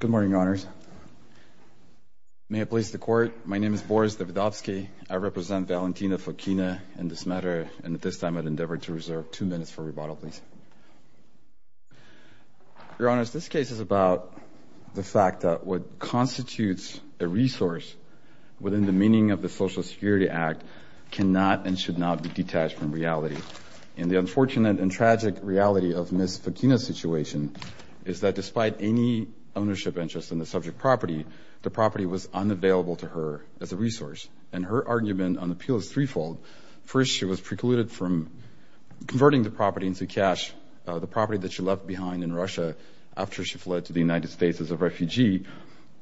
Good morning, Your Honors. May I please the Court? My name is Boris Davidovsky. I represent Valentina Fokina in this matter, and at this time I would endeavor to reserve two minutes for rebuttal, please. Your Honors, this case is about the fact that what constitutes a reality. And the unfortunate and tragic reality of Ms. Fokina's situation is that despite any ownership interest in the subject property, the property was unavailable to her as a resource. And her argument on the appeal is threefold. First, she was precluded from converting the property into cash, the property that she left behind in Russia after she fled to the United States as a refugee,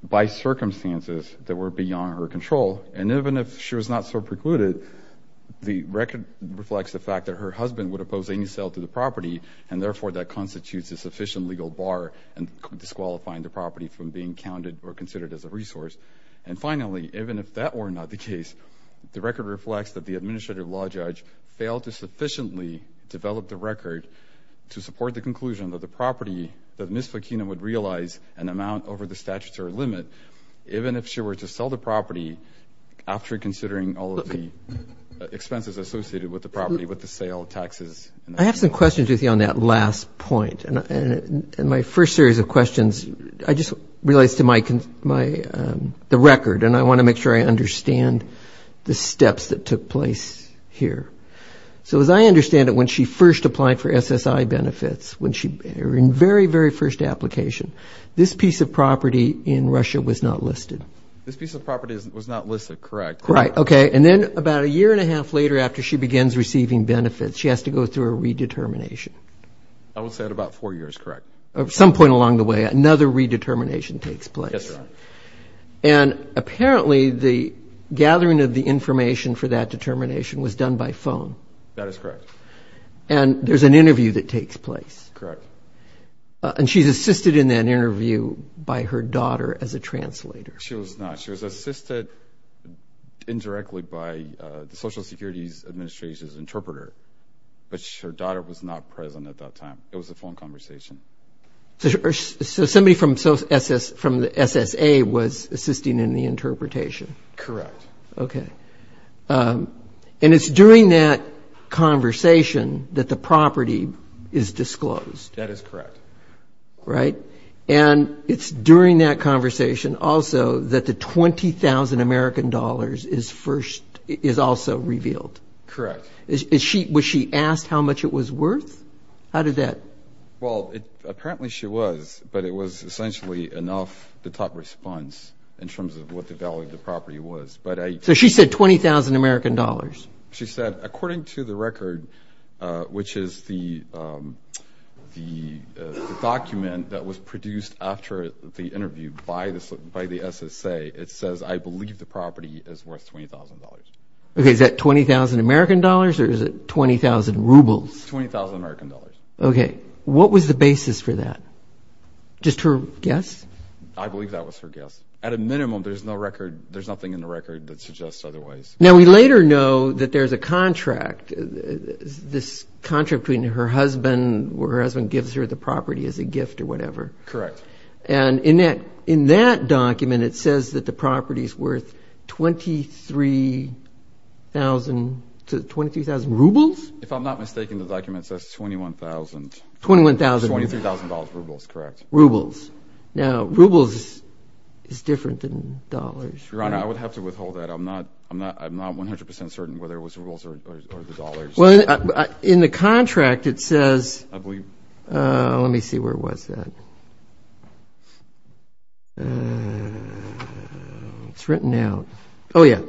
by circumstances that were beyond her control. And even if she was not so precluded, the record reflects the fact that her husband would oppose any sale to the property, and therefore that constitutes a sufficient legal bar in disqualifying the property from being counted or considered as a resource. And finally, even if that were not the case, the record reflects that the Administrative Law Judge failed to sufficiently develop the record to support the conclusion that the property that Ms. Fokina would realize an amount over the statutory limit, even if she were to sell the property after considering all of the expenses associated with the property, with the sale, taxes. I have some questions with you on that last point. And my first series of questions, I just realized to my, the record, and I want to make sure I understand the steps that took place here. So as I understand it, when she first applied for SSI benefits, when she, in very, very first application, this piece of property in Russia was not listed. This piece of property was not listed, correct. Right, okay. And then about a year and a half later, after she begins receiving benefits, she has to go through a redetermination. I would say at about four years, correct. At some point along the way, another redetermination takes place. Yes, Your Honor. And apparently the gathering of the information for that determination was done by phone. That is correct. And there's an interview that takes place. Correct. And she's assisted in that interview by her daughter as a translator. She was not. She was assisted indirectly by the Social Security Administration's interpreter, but her daughter was not present at that time. It was a phone conversation. So somebody from the SSA was assisting in the interpretation. Correct. Okay. And it's during that conversation that the property is disclosed. That is correct. Right. And it's during that conversation also that the $20,000 is also revealed. Correct. Was she asked how much it was worth? How did that? Well, apparently she was, but it was essentially enough to top response in terms of what the value of the property was. So she said $20,000? She said, according to the record, which is the document that was produced after the interview by the SSA, it says, I believe the property is worth $20,000. Okay. Is that $20,000 or is it 20,000 rubles? $20,000. Okay. What was the basis for that? Just her guess? I believe that was her guess. At a minimum, there's nothing in the record that suggests otherwise. Now, we later know that there's a contract, this contract between her husband, where her husband gives her the property as a gift or whatever. Correct. And in that document, it says that the property is worth 23,000 rubles? If I'm not mistaken, the document says $21,000. $21,000. $23,000 rubles, correct. Rubles. Now, rubles is different than dollars. Your Honor, I would have to withhold that. I'm not 100% certain whether it was rubles or the dollars. Well, in the contract, it says, let me see, where was that? It's written out. Oh, yeah.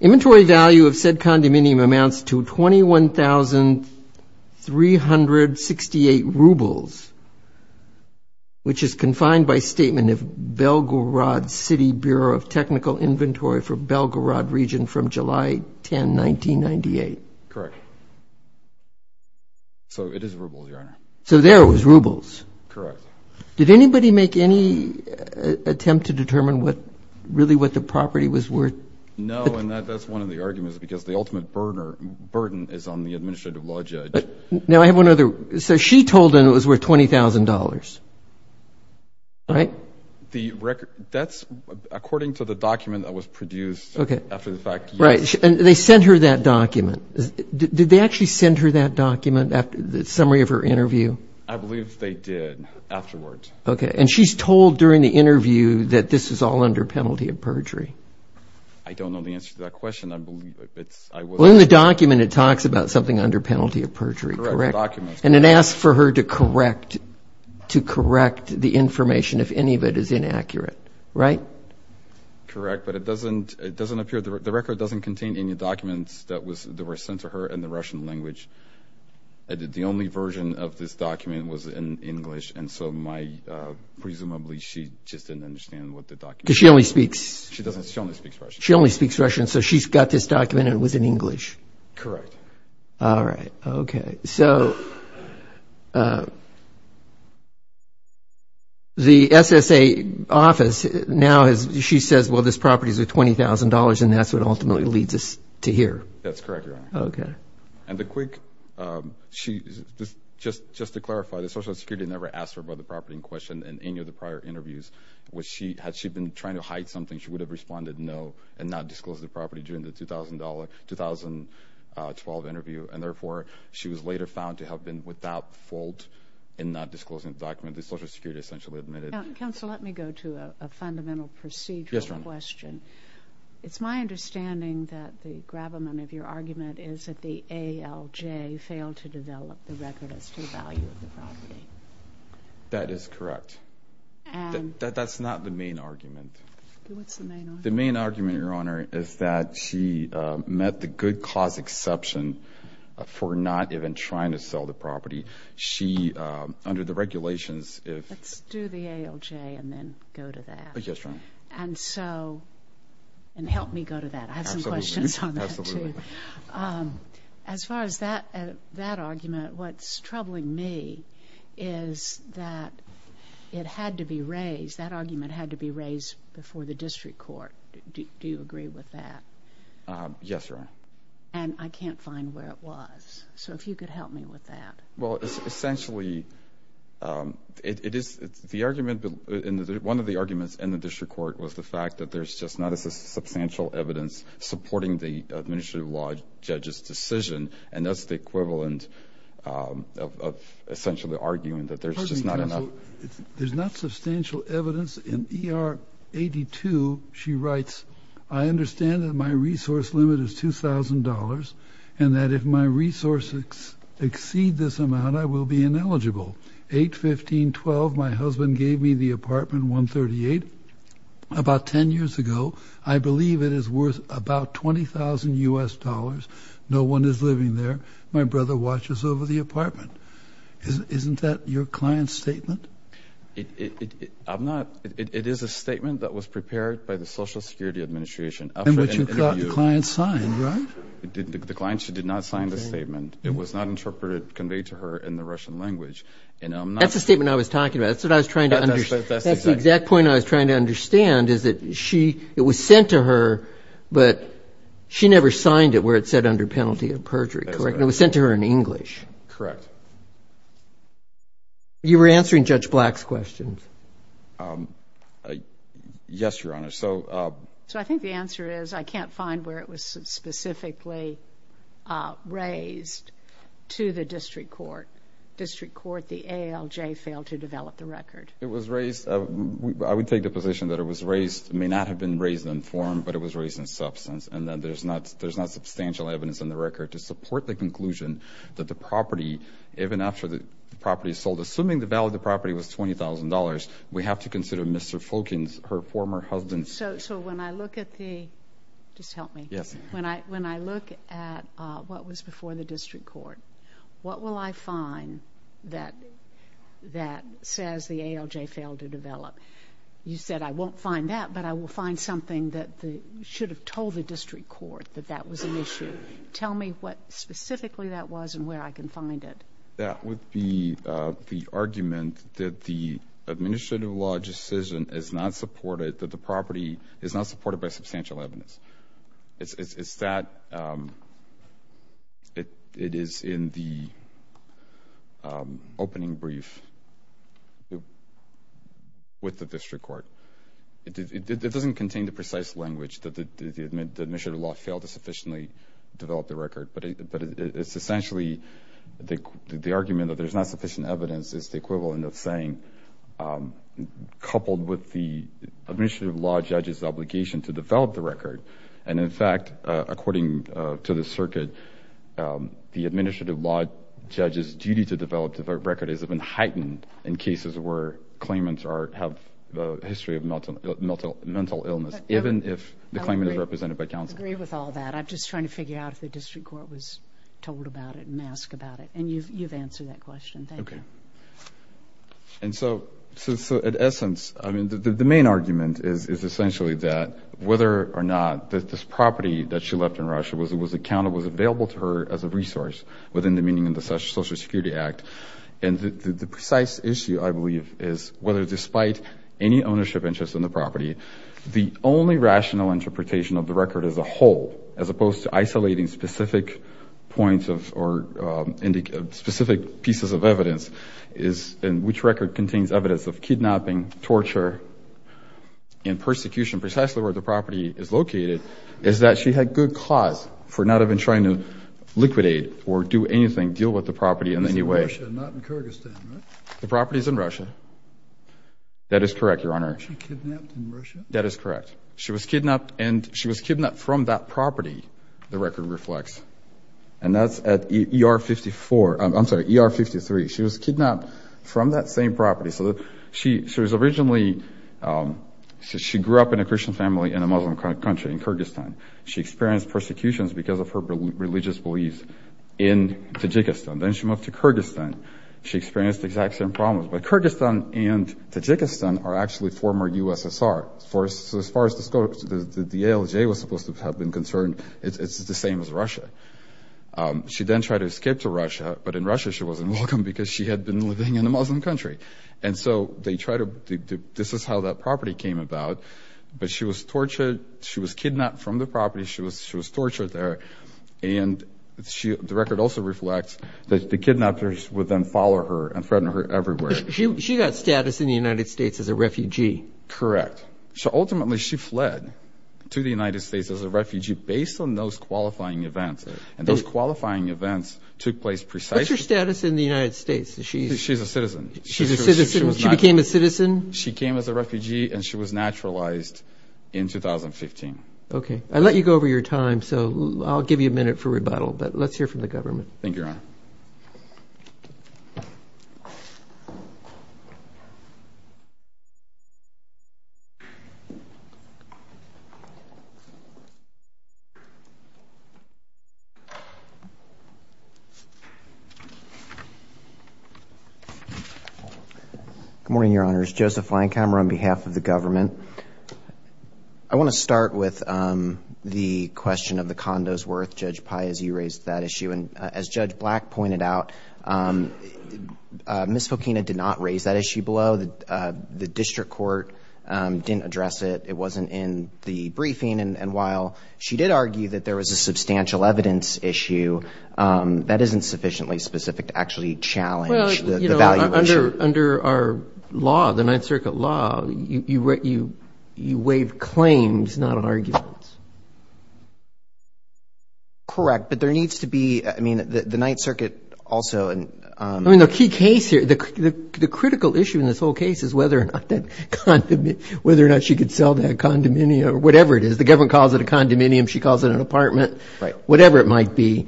Inventory value of said condominium amounts to 21,368 rubles, which is confined by statement of Belgorod City Bureau of Technical Inventory for Belgorod region from July 10, 1998. Correct. So, it is rubles, Your Honor. So, there it was, rubles. Correct. Did anybody make any attempt to determine what, really, what the property was worth? No, and that's one of the arguments, because the ultimate burden is on the administrative law judge. Now, I have one other. So, she told him it was worth $20,000, right? The record, that's according to the document that was produced after the fact. Right, and they sent her that document. Did they actually send her that document, the summary of her interview? I believe they did, afterwards. Okay, and she's told during the interview that this is all under penalty of perjury. I don't know the answer to that question. Well, in the document, it talks about something under penalty of perjury, correct? And it asks for her to correct the information, if any of it is inaccurate, right? Correct, but it doesn't appear, the record doesn't contain any documents that were sent to her in the Russian language. The only version of this document was in English, and so, presumably, she just didn't understand what the document was. Because she only speaks... She only speaks Russian. She only speaks Russian, so she's got this document, and it was in English. Correct. All right, okay. So, the SSA office now, she says, well, this property is worth $20,000, and that's what ultimately leads us to here. That's correct, Your Honor. Okay. And the quick, just to clarify, the Social Security never asked her about the property in question in any of the prior interviews. Had she been trying to hide something, she would have responded no, and not disclosed the property during the 2012 interview. And therefore, she was later found to have been without fault in not disclosing the document the Social Security essentially admitted. Now, counsel, let me go to a fundamental procedural question. Yes, Your Honor. It's my understanding that the gravamen of your argument is that the ALJ failed to develop the record as to the value of the property. That is correct. That's not the main argument. What's the main argument? The main argument, Your Honor, is that she met the good cause exception for not even trying to sell the property. She, under the regulations, if- Let's do the ALJ and then go to that. Yes, Your Honor. And so, and help me go to that. I have some questions on that too. Absolutely. As far as that argument, what's troubling me is that it had to be raised, that argument had to be raised before the district court. Do you agree with that? Yes, Your Honor. And I can't find where it was. So, if you could help me with that. Well, it's essentially, it is, the argument, one of the arguments in the district court was the fact that there's just not a substantial evidence supporting the administrative law judge's decision. And that's the equivalent of essentially arguing that there's just not enough- There's not substantial evidence in ER 82. She writes, I understand that my resource limit is $2,000 and that if my resources exceed this amount, I will be ineligible. 8-15-12, my husband gave me the apartment 138 about 10 years ago. I believe it is worth about $20,000. No one is living there. My brother watches over the apartment. Isn't that your client's statement? It is a statement that was prepared by the Social Security Administration. And which you thought the client signed, right? The client, she did not sign the statement. It was not interpreted, conveyed to her in the Russian language. That's the statement I was talking about. That's what I was trying to understand. That's the exact point I was trying to understand is that she, it was sent to her, but she never signed it where it said under penalty of perjury, correct? It was sent to her in English. Correct. You were answering Judge Black's questions. Yes, Your Honor. So I think the answer is I can't find where it was specifically raised to the district court. District court, the ALJ failed to develop the record. It was raised, I would take the position that it was raised, it may not have been raised in form, but it was raised in substance. And that there's not substantial evidence in the record to support the conclusion that the property, even after the property is sold, assuming the value of the property was $20,000, we have to consider Mr. Fulken's, her former husband's. So when I look at the, just help me. Yes. When I look at what was before the district court, what will I find that says the ALJ failed to develop? You said I won't find that, but I will find something that should have told the district court that that was an issue. Tell me what specifically that was and where I can find it. That would be the argument that the administrative law decision is not supported, that the property is not supported by substantial evidence. It's that it is in the opening brief with the district court. It doesn't contain the precise language that the administrative law failed to sufficiently develop the record, but it's essentially the argument that there's not sufficient evidence is the equivalent of saying coupled with the administrative law judge's obligation to develop the record. And in fact, according to the circuit, the administrative law judge's duty to develop the record has been heightened in cases where claimants have a history of mental illness, even if the claimant is represented by counsel. I agree with all that. I'm just trying to figure out if the district court was told about it and asked about it. And you've answered that question. Thank you. And so, in essence, I mean, the main argument is essentially that whether or not this property that she left in Russia was it was accountable, was available to her as a resource within the meaning of the Social Security Act. And the precise issue, I believe, is whether despite any ownership interest in the property, the only rational interpretation of the record as a whole, as opposed to isolating specific points of or specific pieces of evidence, is in which record contains evidence of kidnapping, torture, and persecution. Precisely where the property is located is that she had good cause for not even trying to liquidate or do anything, deal with the property in any way. It's in Russia, not in Kyrgyzstan, right? The property is in Russia. That is correct, Your Honor. She kidnapped in Russia? That is correct. She was kidnapped, and she was kidnapped from that property, the record reflects. And that's at ER 54, I'm sorry, ER 53. She was kidnapped from that same property. So she was originally, she grew up in a Christian family in a Muslim country, in Kyrgyzstan. She experienced persecutions because of her religious beliefs in Tajikistan. Then she moved to Kyrgyzstan. She experienced the exact same problems. But Kyrgyzstan and Tajikistan are actually former USSR, so as far as the ALJ was supposed to have been concerned, it's the same as Russia. She then tried to escape to Russia, but in Russia she wasn't welcome because she had been living in a Muslim country. And so they tried to, this is how that property came about. But she was tortured, she was kidnapped from the property, she was tortured there. And the record also reflects that the kidnappers would then follow her and threaten her everywhere. She got status in the United States as a refugee? Correct. So ultimately she fled to the United States as a refugee based on those qualifying events. And those qualifying events took place precisely- What's her status in the United States? She's- She's a citizen. She's a citizen? She became a citizen? She came as a refugee and she was naturalized in 2015. Okay. I let you go over your time, so I'll give you a minute for rebuttal, but let's hear from the government. Thank you, Your Honor. Good morning, Your Honors. Joseph Feinkammer on behalf of the government. I want to start with the question of the condo's worth. Judge Piazzi raised that issue. And as Judge Black pointed out, Ms. Fokina did not raise that issue below. The district court didn't address it. It wasn't in the briefing. And while she did argue that there was a substantial evidence issue, that isn't sufficiently specific to actually challenge the value issue. Under our law, the Ninth Circuit law, you waive claims, not arguments. Correct, but there needs to be- I mean, the Ninth Circuit also- I mean, the key case here, the critical issue in this whole case is whether or not that condominium- whether or not she could sell that condominium or whatever it is. The government calls it a condominium. She calls it an apartment, whatever it might be.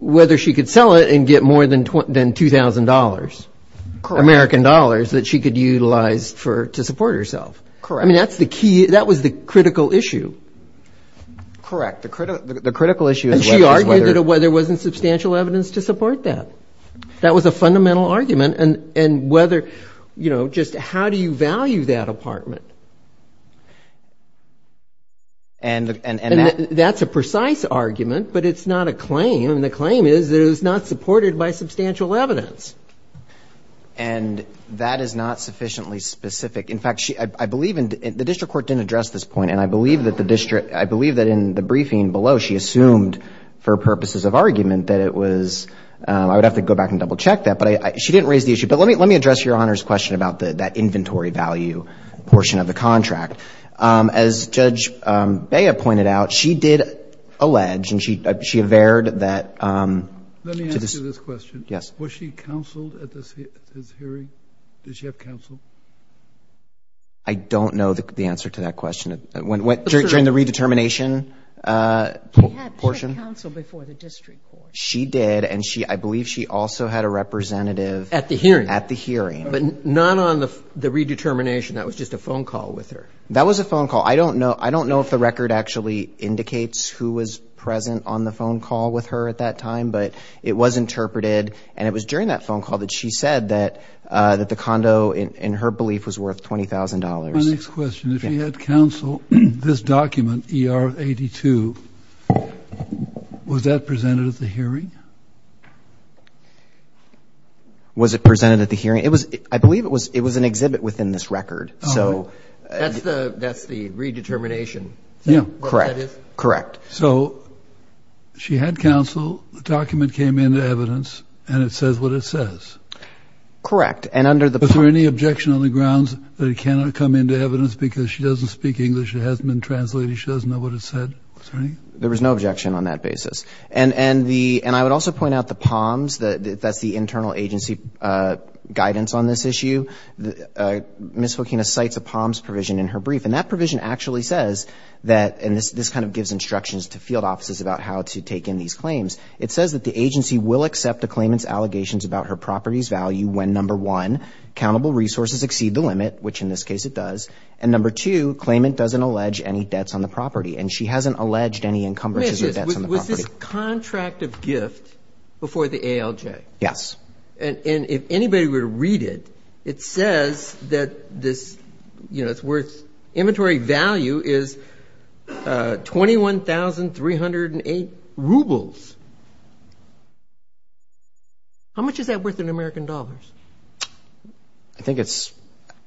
Whether she could sell it and get more than $2,000. Correct. American dollars that she could utilize for- to support herself. Correct. I mean, that's the key. That was the critical issue. Correct. The critical issue is whether- And she argued that there wasn't substantial evidence to support that. That was a fundamental argument. And whether, you know, just how do you value that apartment? And that- That's a precise argument, but it's not a claim. And the claim is that it was not supported by substantial evidence. And that is not sufficiently specific. In fact, I believe in- the district court didn't address this point. And I believe that the district- I believe that in the briefing below, she assumed for purposes of argument that it was- I would have to go back and double check that. But she didn't raise the issue. But let me address Your Honor's question about that inventory value portion of the contract. As Judge Bea pointed out, she did allege and she averred that- Let me answer this question. Yes. Was she counseled at this hearing? Did she have counsel? I don't know the answer to that question. During the redetermination portion? She had counsel before the district court. She did. And she- I believe she also had a representative- At the hearing. At the hearing. But not on the redetermination. That was just a phone call with her. That was a phone call. I don't know. I don't know if the record actually indicates who was present on the phone call with her at that time. But it was interpreted. And it was during that phone call that she said that the condo, in her belief, was worth $20,000. My next question. If she had counseled this document, ER-82, was that presented at the hearing? Was it presented at the hearing? It was- I believe it was an exhibit within this record. So- That's the redetermination? Yeah. Correct. Correct. So she had counsel. The document came into evidence. And it says what it says. Correct. And under the- Is there any objection on the grounds that it cannot come into evidence because she doesn't speak English? It hasn't been translated. She doesn't know what it said? There was no objection on that basis. And the- and I would also point out the POMS, that's the internal agency guidance on this issue. The- Ms. Joaquina cites a POMS provision in her brief. And that provision actually says that- and this kind of gives instructions to field offices about how to take in these claims. It says that the agency will accept a claimant's allegations about her property's value when, number one, countable resources exceed the limit, which in this case it does. And number two, claimant doesn't allege any debts on the property. And she hasn't alleged any encumbrances or debts on the property. Was this contract of gift before the ALJ? Yes. And if anybody were to read it, it says that this, you know, it's worth- inventory value is 21,308 rubles. How much is that worth in American dollars? I think it's-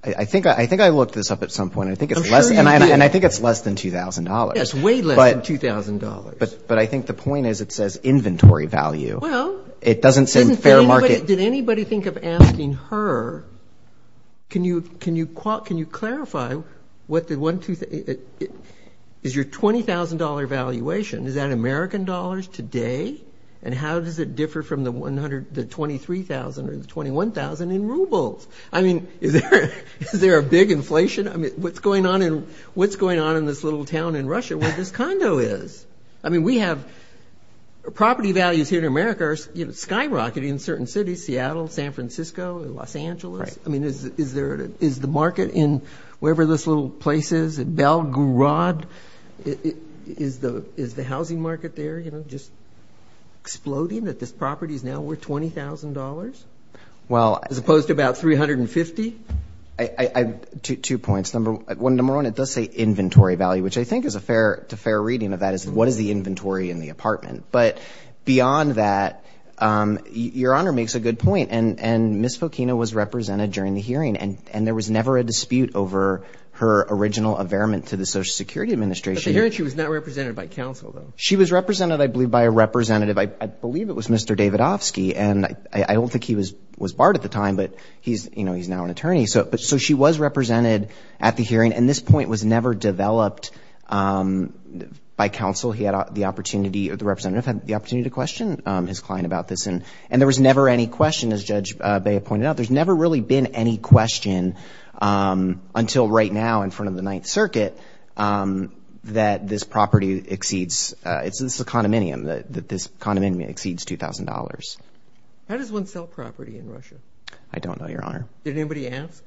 I think I looked this up at some point. I think it's less- I'm sure you did. And I think it's less than $2,000. It's way less than $2,000. But I think the point is it says inventory value. It doesn't say fair market. Did anybody think of asking her, can you clarify what the- is your $20,000 valuation, is that American dollars today? And how does it differ from the $23,000 or the $21,000 in rubles? I mean, is there a big inflation? I mean, what's going on in this little town in Russia where this condo is? I mean, we have- property values here in America are, you know, skyrocketing in certain cities, Seattle, San Francisco, Los Angeles. I mean, is there- is the market in wherever this little place is, Belgrade, is the housing market there, you know, just exploding that this property is now worth $20,000? Well- As opposed to about $350,000? Two points. Number one, it does say inventory value, which I think is a fair- to fair reading of that is what is the inventory in the apartment? But beyond that, Your Honor makes a good point. And Ms. Fokino was represented during the hearing, and there was never a dispute over her original averament to the Social Security Administration. But the hearing, she was not represented by counsel, though. She was represented, I believe, by a representative. I believe it was Mr. Davidovsky, and I don't think he was barred at the time, but he's, you know, he's now an attorney. So she was represented at the hearing, and this point was never developed by counsel. He had the opportunity, or the representative had the opportunity to question his client about this, and there was never any question, as Judge Bea pointed out, there's never really been any question until right now in front of the Ninth Circuit that this property exceeds, it's a condominium, that this condominium exceeds $2,000. How does one sell property in Russia? I don't know, Your Honor. Did anybody ask?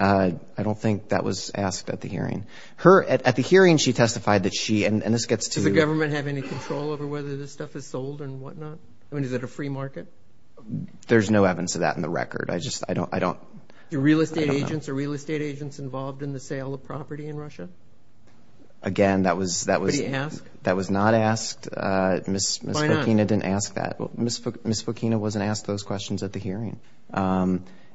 I don't think that was asked at the hearing. Her, at the hearing, she testified that she, and this gets to. Does the government have any control over whether this stuff is sold and whatnot? I mean, is it a free market? There's no evidence of that in the record. I just, I don't, I don't. Do real estate agents or real estate agents involved in the sale of property in Russia? Again, that was, that was. Did anybody ask? That was not asked. Ms. Fokina didn't ask that. Well, Ms. Fokina wasn't asked those questions at the hearing.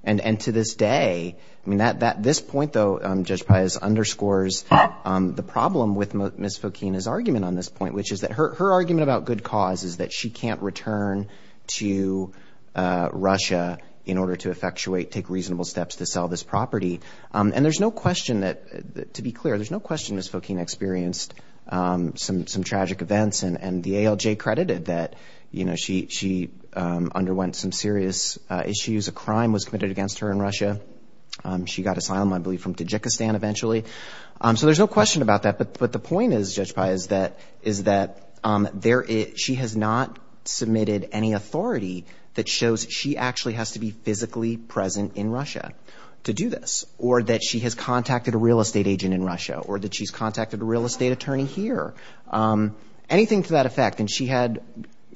And, and to this day, I mean, that, that, this point though, Judge Pius underscores the problem with Ms. Fokina's argument on this point, which is that her, her argument about good cause is that she can't return to Russia in order to effectuate, take reasonable steps to sell this property. And there's no question that, to be clear, there's no question Ms. Fokina experienced some, some tragic events and, and the ALJ credited that, you know, she, she underwent some serious issues. A crime was committed against her in Russia. She got asylum, I believe, from Tajikistan eventually. So there's no question about that. But, but the point is, Judge Pius, is that, is that there is, she has not submitted any authority that shows she actually has to be physically present in Russia to do this. Or that she has contacted a real estate agent in Russia. Or that she's contacted a real estate attorney here. Anything to that effect. And she had,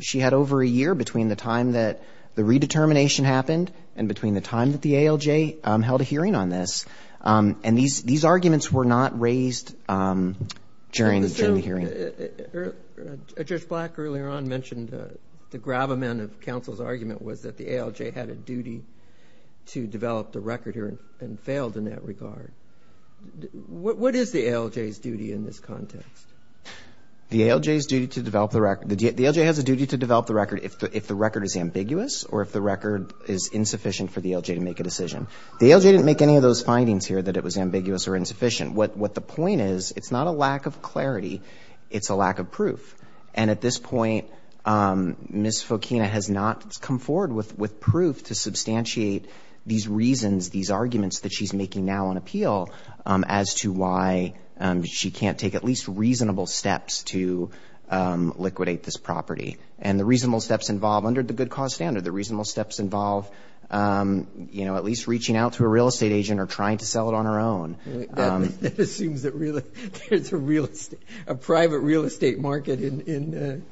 she had over a year between the time that the redetermination happened and between the time that the ALJ held a hearing on this. And these, these arguments were not raised during the hearing. Judge Black earlier on mentioned the gravamen of counsel's argument was that the ALJ had a duty to develop the record here and failed in that regard. What is the ALJ's duty in this context? The ALJ's duty to develop the record, the ALJ has a duty to develop the record if the, if the record is ambiguous. Or if the record is insufficient for the ALJ to make a decision. The ALJ didn't make any of those findings here that it was ambiguous or insufficient. What, what the point is, it's not a lack of clarity. It's a lack of proof. And at this point, Ms. Fokina has not come forward with, with proof to substantiate these reasons, these arguments that she's making now on appeal as to why she can't take at least reasonable steps to liquidate this property. And the reasonable steps involve, under the good cause standard, the reasonable steps involve, you know, at least reaching out to a real estate agent or trying to sell it on her own. That assumes that really there's a real estate, a private real estate market in, in,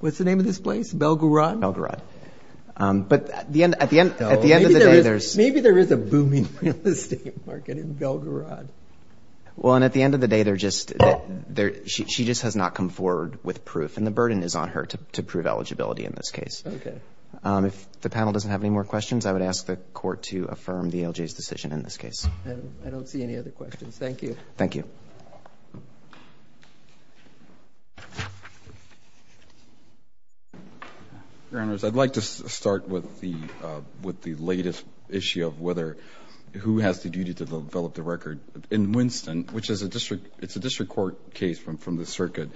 what's the name of this place? Belgorod? Belgorod. But at the end, at the end, at the end of the day, there's. Maybe there is a booming real estate market in Belgorod. Well, and at the end of the day, they're just, they're, she, she just has not come forward with proof. And the burden is on her to, to prove eligibility in this case. Okay. Um, if the panel doesn't have any more questions, I would ask the court to affirm the ALJ's decision in this case. I don't, I don't see any other questions. Thank you. Thank you. Your Honors, I'd like to start with the, uh, with the latest issue of whether, who has the duty to develop the record. In Winston, which is a district, it's a district court case from, from the circuit.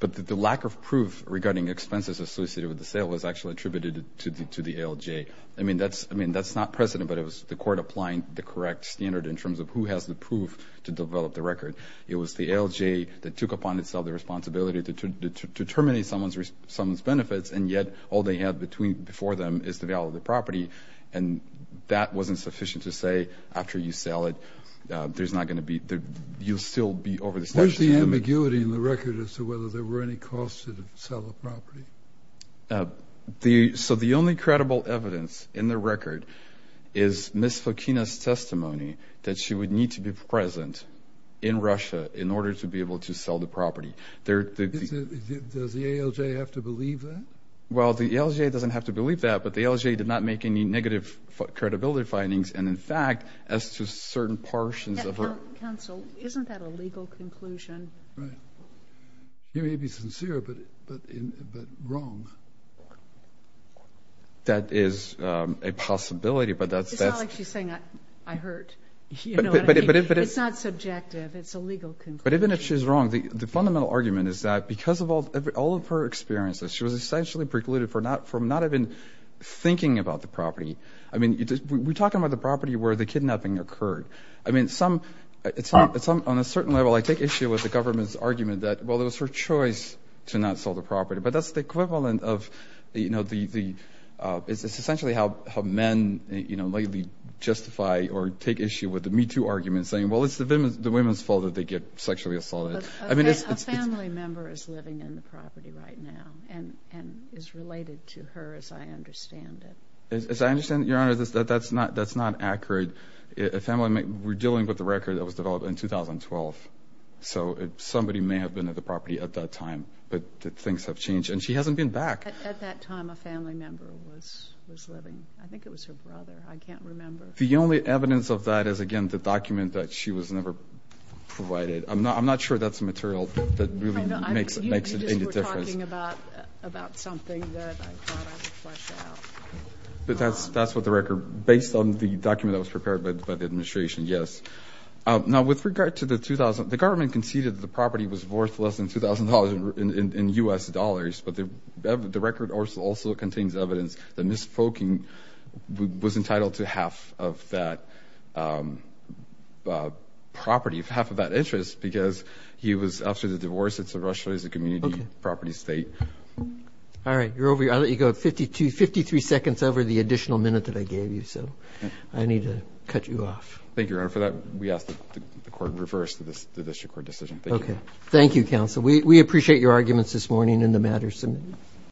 But the lack of proof regarding expenses associated with the sale was actually attributed to the, to the ALJ. I mean, that's, I mean, that's not precedent, but it was the court applying the correct standard in terms of who has the proof to develop the record. It was the ALJ that took upon itself the responsibility to, to, to, to terminate someone's, someone's benefits. And yet all they have between, before them is the value of the property. And that wasn't sufficient to say after you sell it. There's not going to be, you'll still be over this. Where's the ambiguity in the record as to whether there were any costs to sell the property? So the only credible evidence in the record is Ms. Fokina's testimony that she would need to be present in Russia in order to be able to sell the property. Does the ALJ have to believe that? Well, the ALJ doesn't have to believe that, but the ALJ did not make any negative credibility findings. And in fact, as to certain portions of her... Counsel, isn't that a legal conclusion? Right. You may be sincere, but, but, but wrong. That is a possibility, but that's... It's not like she's saying I, I hurt. It's not subjective. It's a legal conclusion. But even if she's wrong, the, the fundamental argument is that because of all, all of her experiences, she was essentially precluded for not, from not even thinking about the I mean, we're talking about the property where the kidnapping occurred. I mean, some, it's not, it's not on a certain level. I take issue with the government's argument that, well, it was her choice to not sell the property, but that's the equivalent of, you know, the, the, it's essentially how, how men, you know, lately justify or take issue with the Me Too argument saying, well, it's the women's, the women's fault that they get sexually assaulted. I mean, it's... A family member is living in the property right now and, and is related to her as I understand it. As I understand it, Your Honor, that's not, that's not accurate. A family member, we're dealing with the record that was developed in 2012. So somebody may have been at the property at that time, but things have changed and she hasn't been back. At that time, a family member was, was living. I think it was her brother. I can't remember. The only evidence of that is, again, the document that she was never provided. I'm not, I'm not sure that's material that really makes, makes any difference. But that's, that's what the record, based on the document that was prepared by the administration, yes. Now with regard to the 2000, the government conceded that the property was worth less than $2,000 in U.S. dollars, but the record also contains evidence that Ms. Foking was entitled to half of that property, half of that interest because he was, after the divorce, it's a Russia, it's a community property state. All right, you're over, I'll let you go, 52, 53 seconds over the additional minute that I gave you. So I need to cut you off. Thank you, Your Honor. For that, we ask that the court reverse the district court decision. Okay. Thank you, counsel. We, we appreciate your arguments this morning and the matters submitted.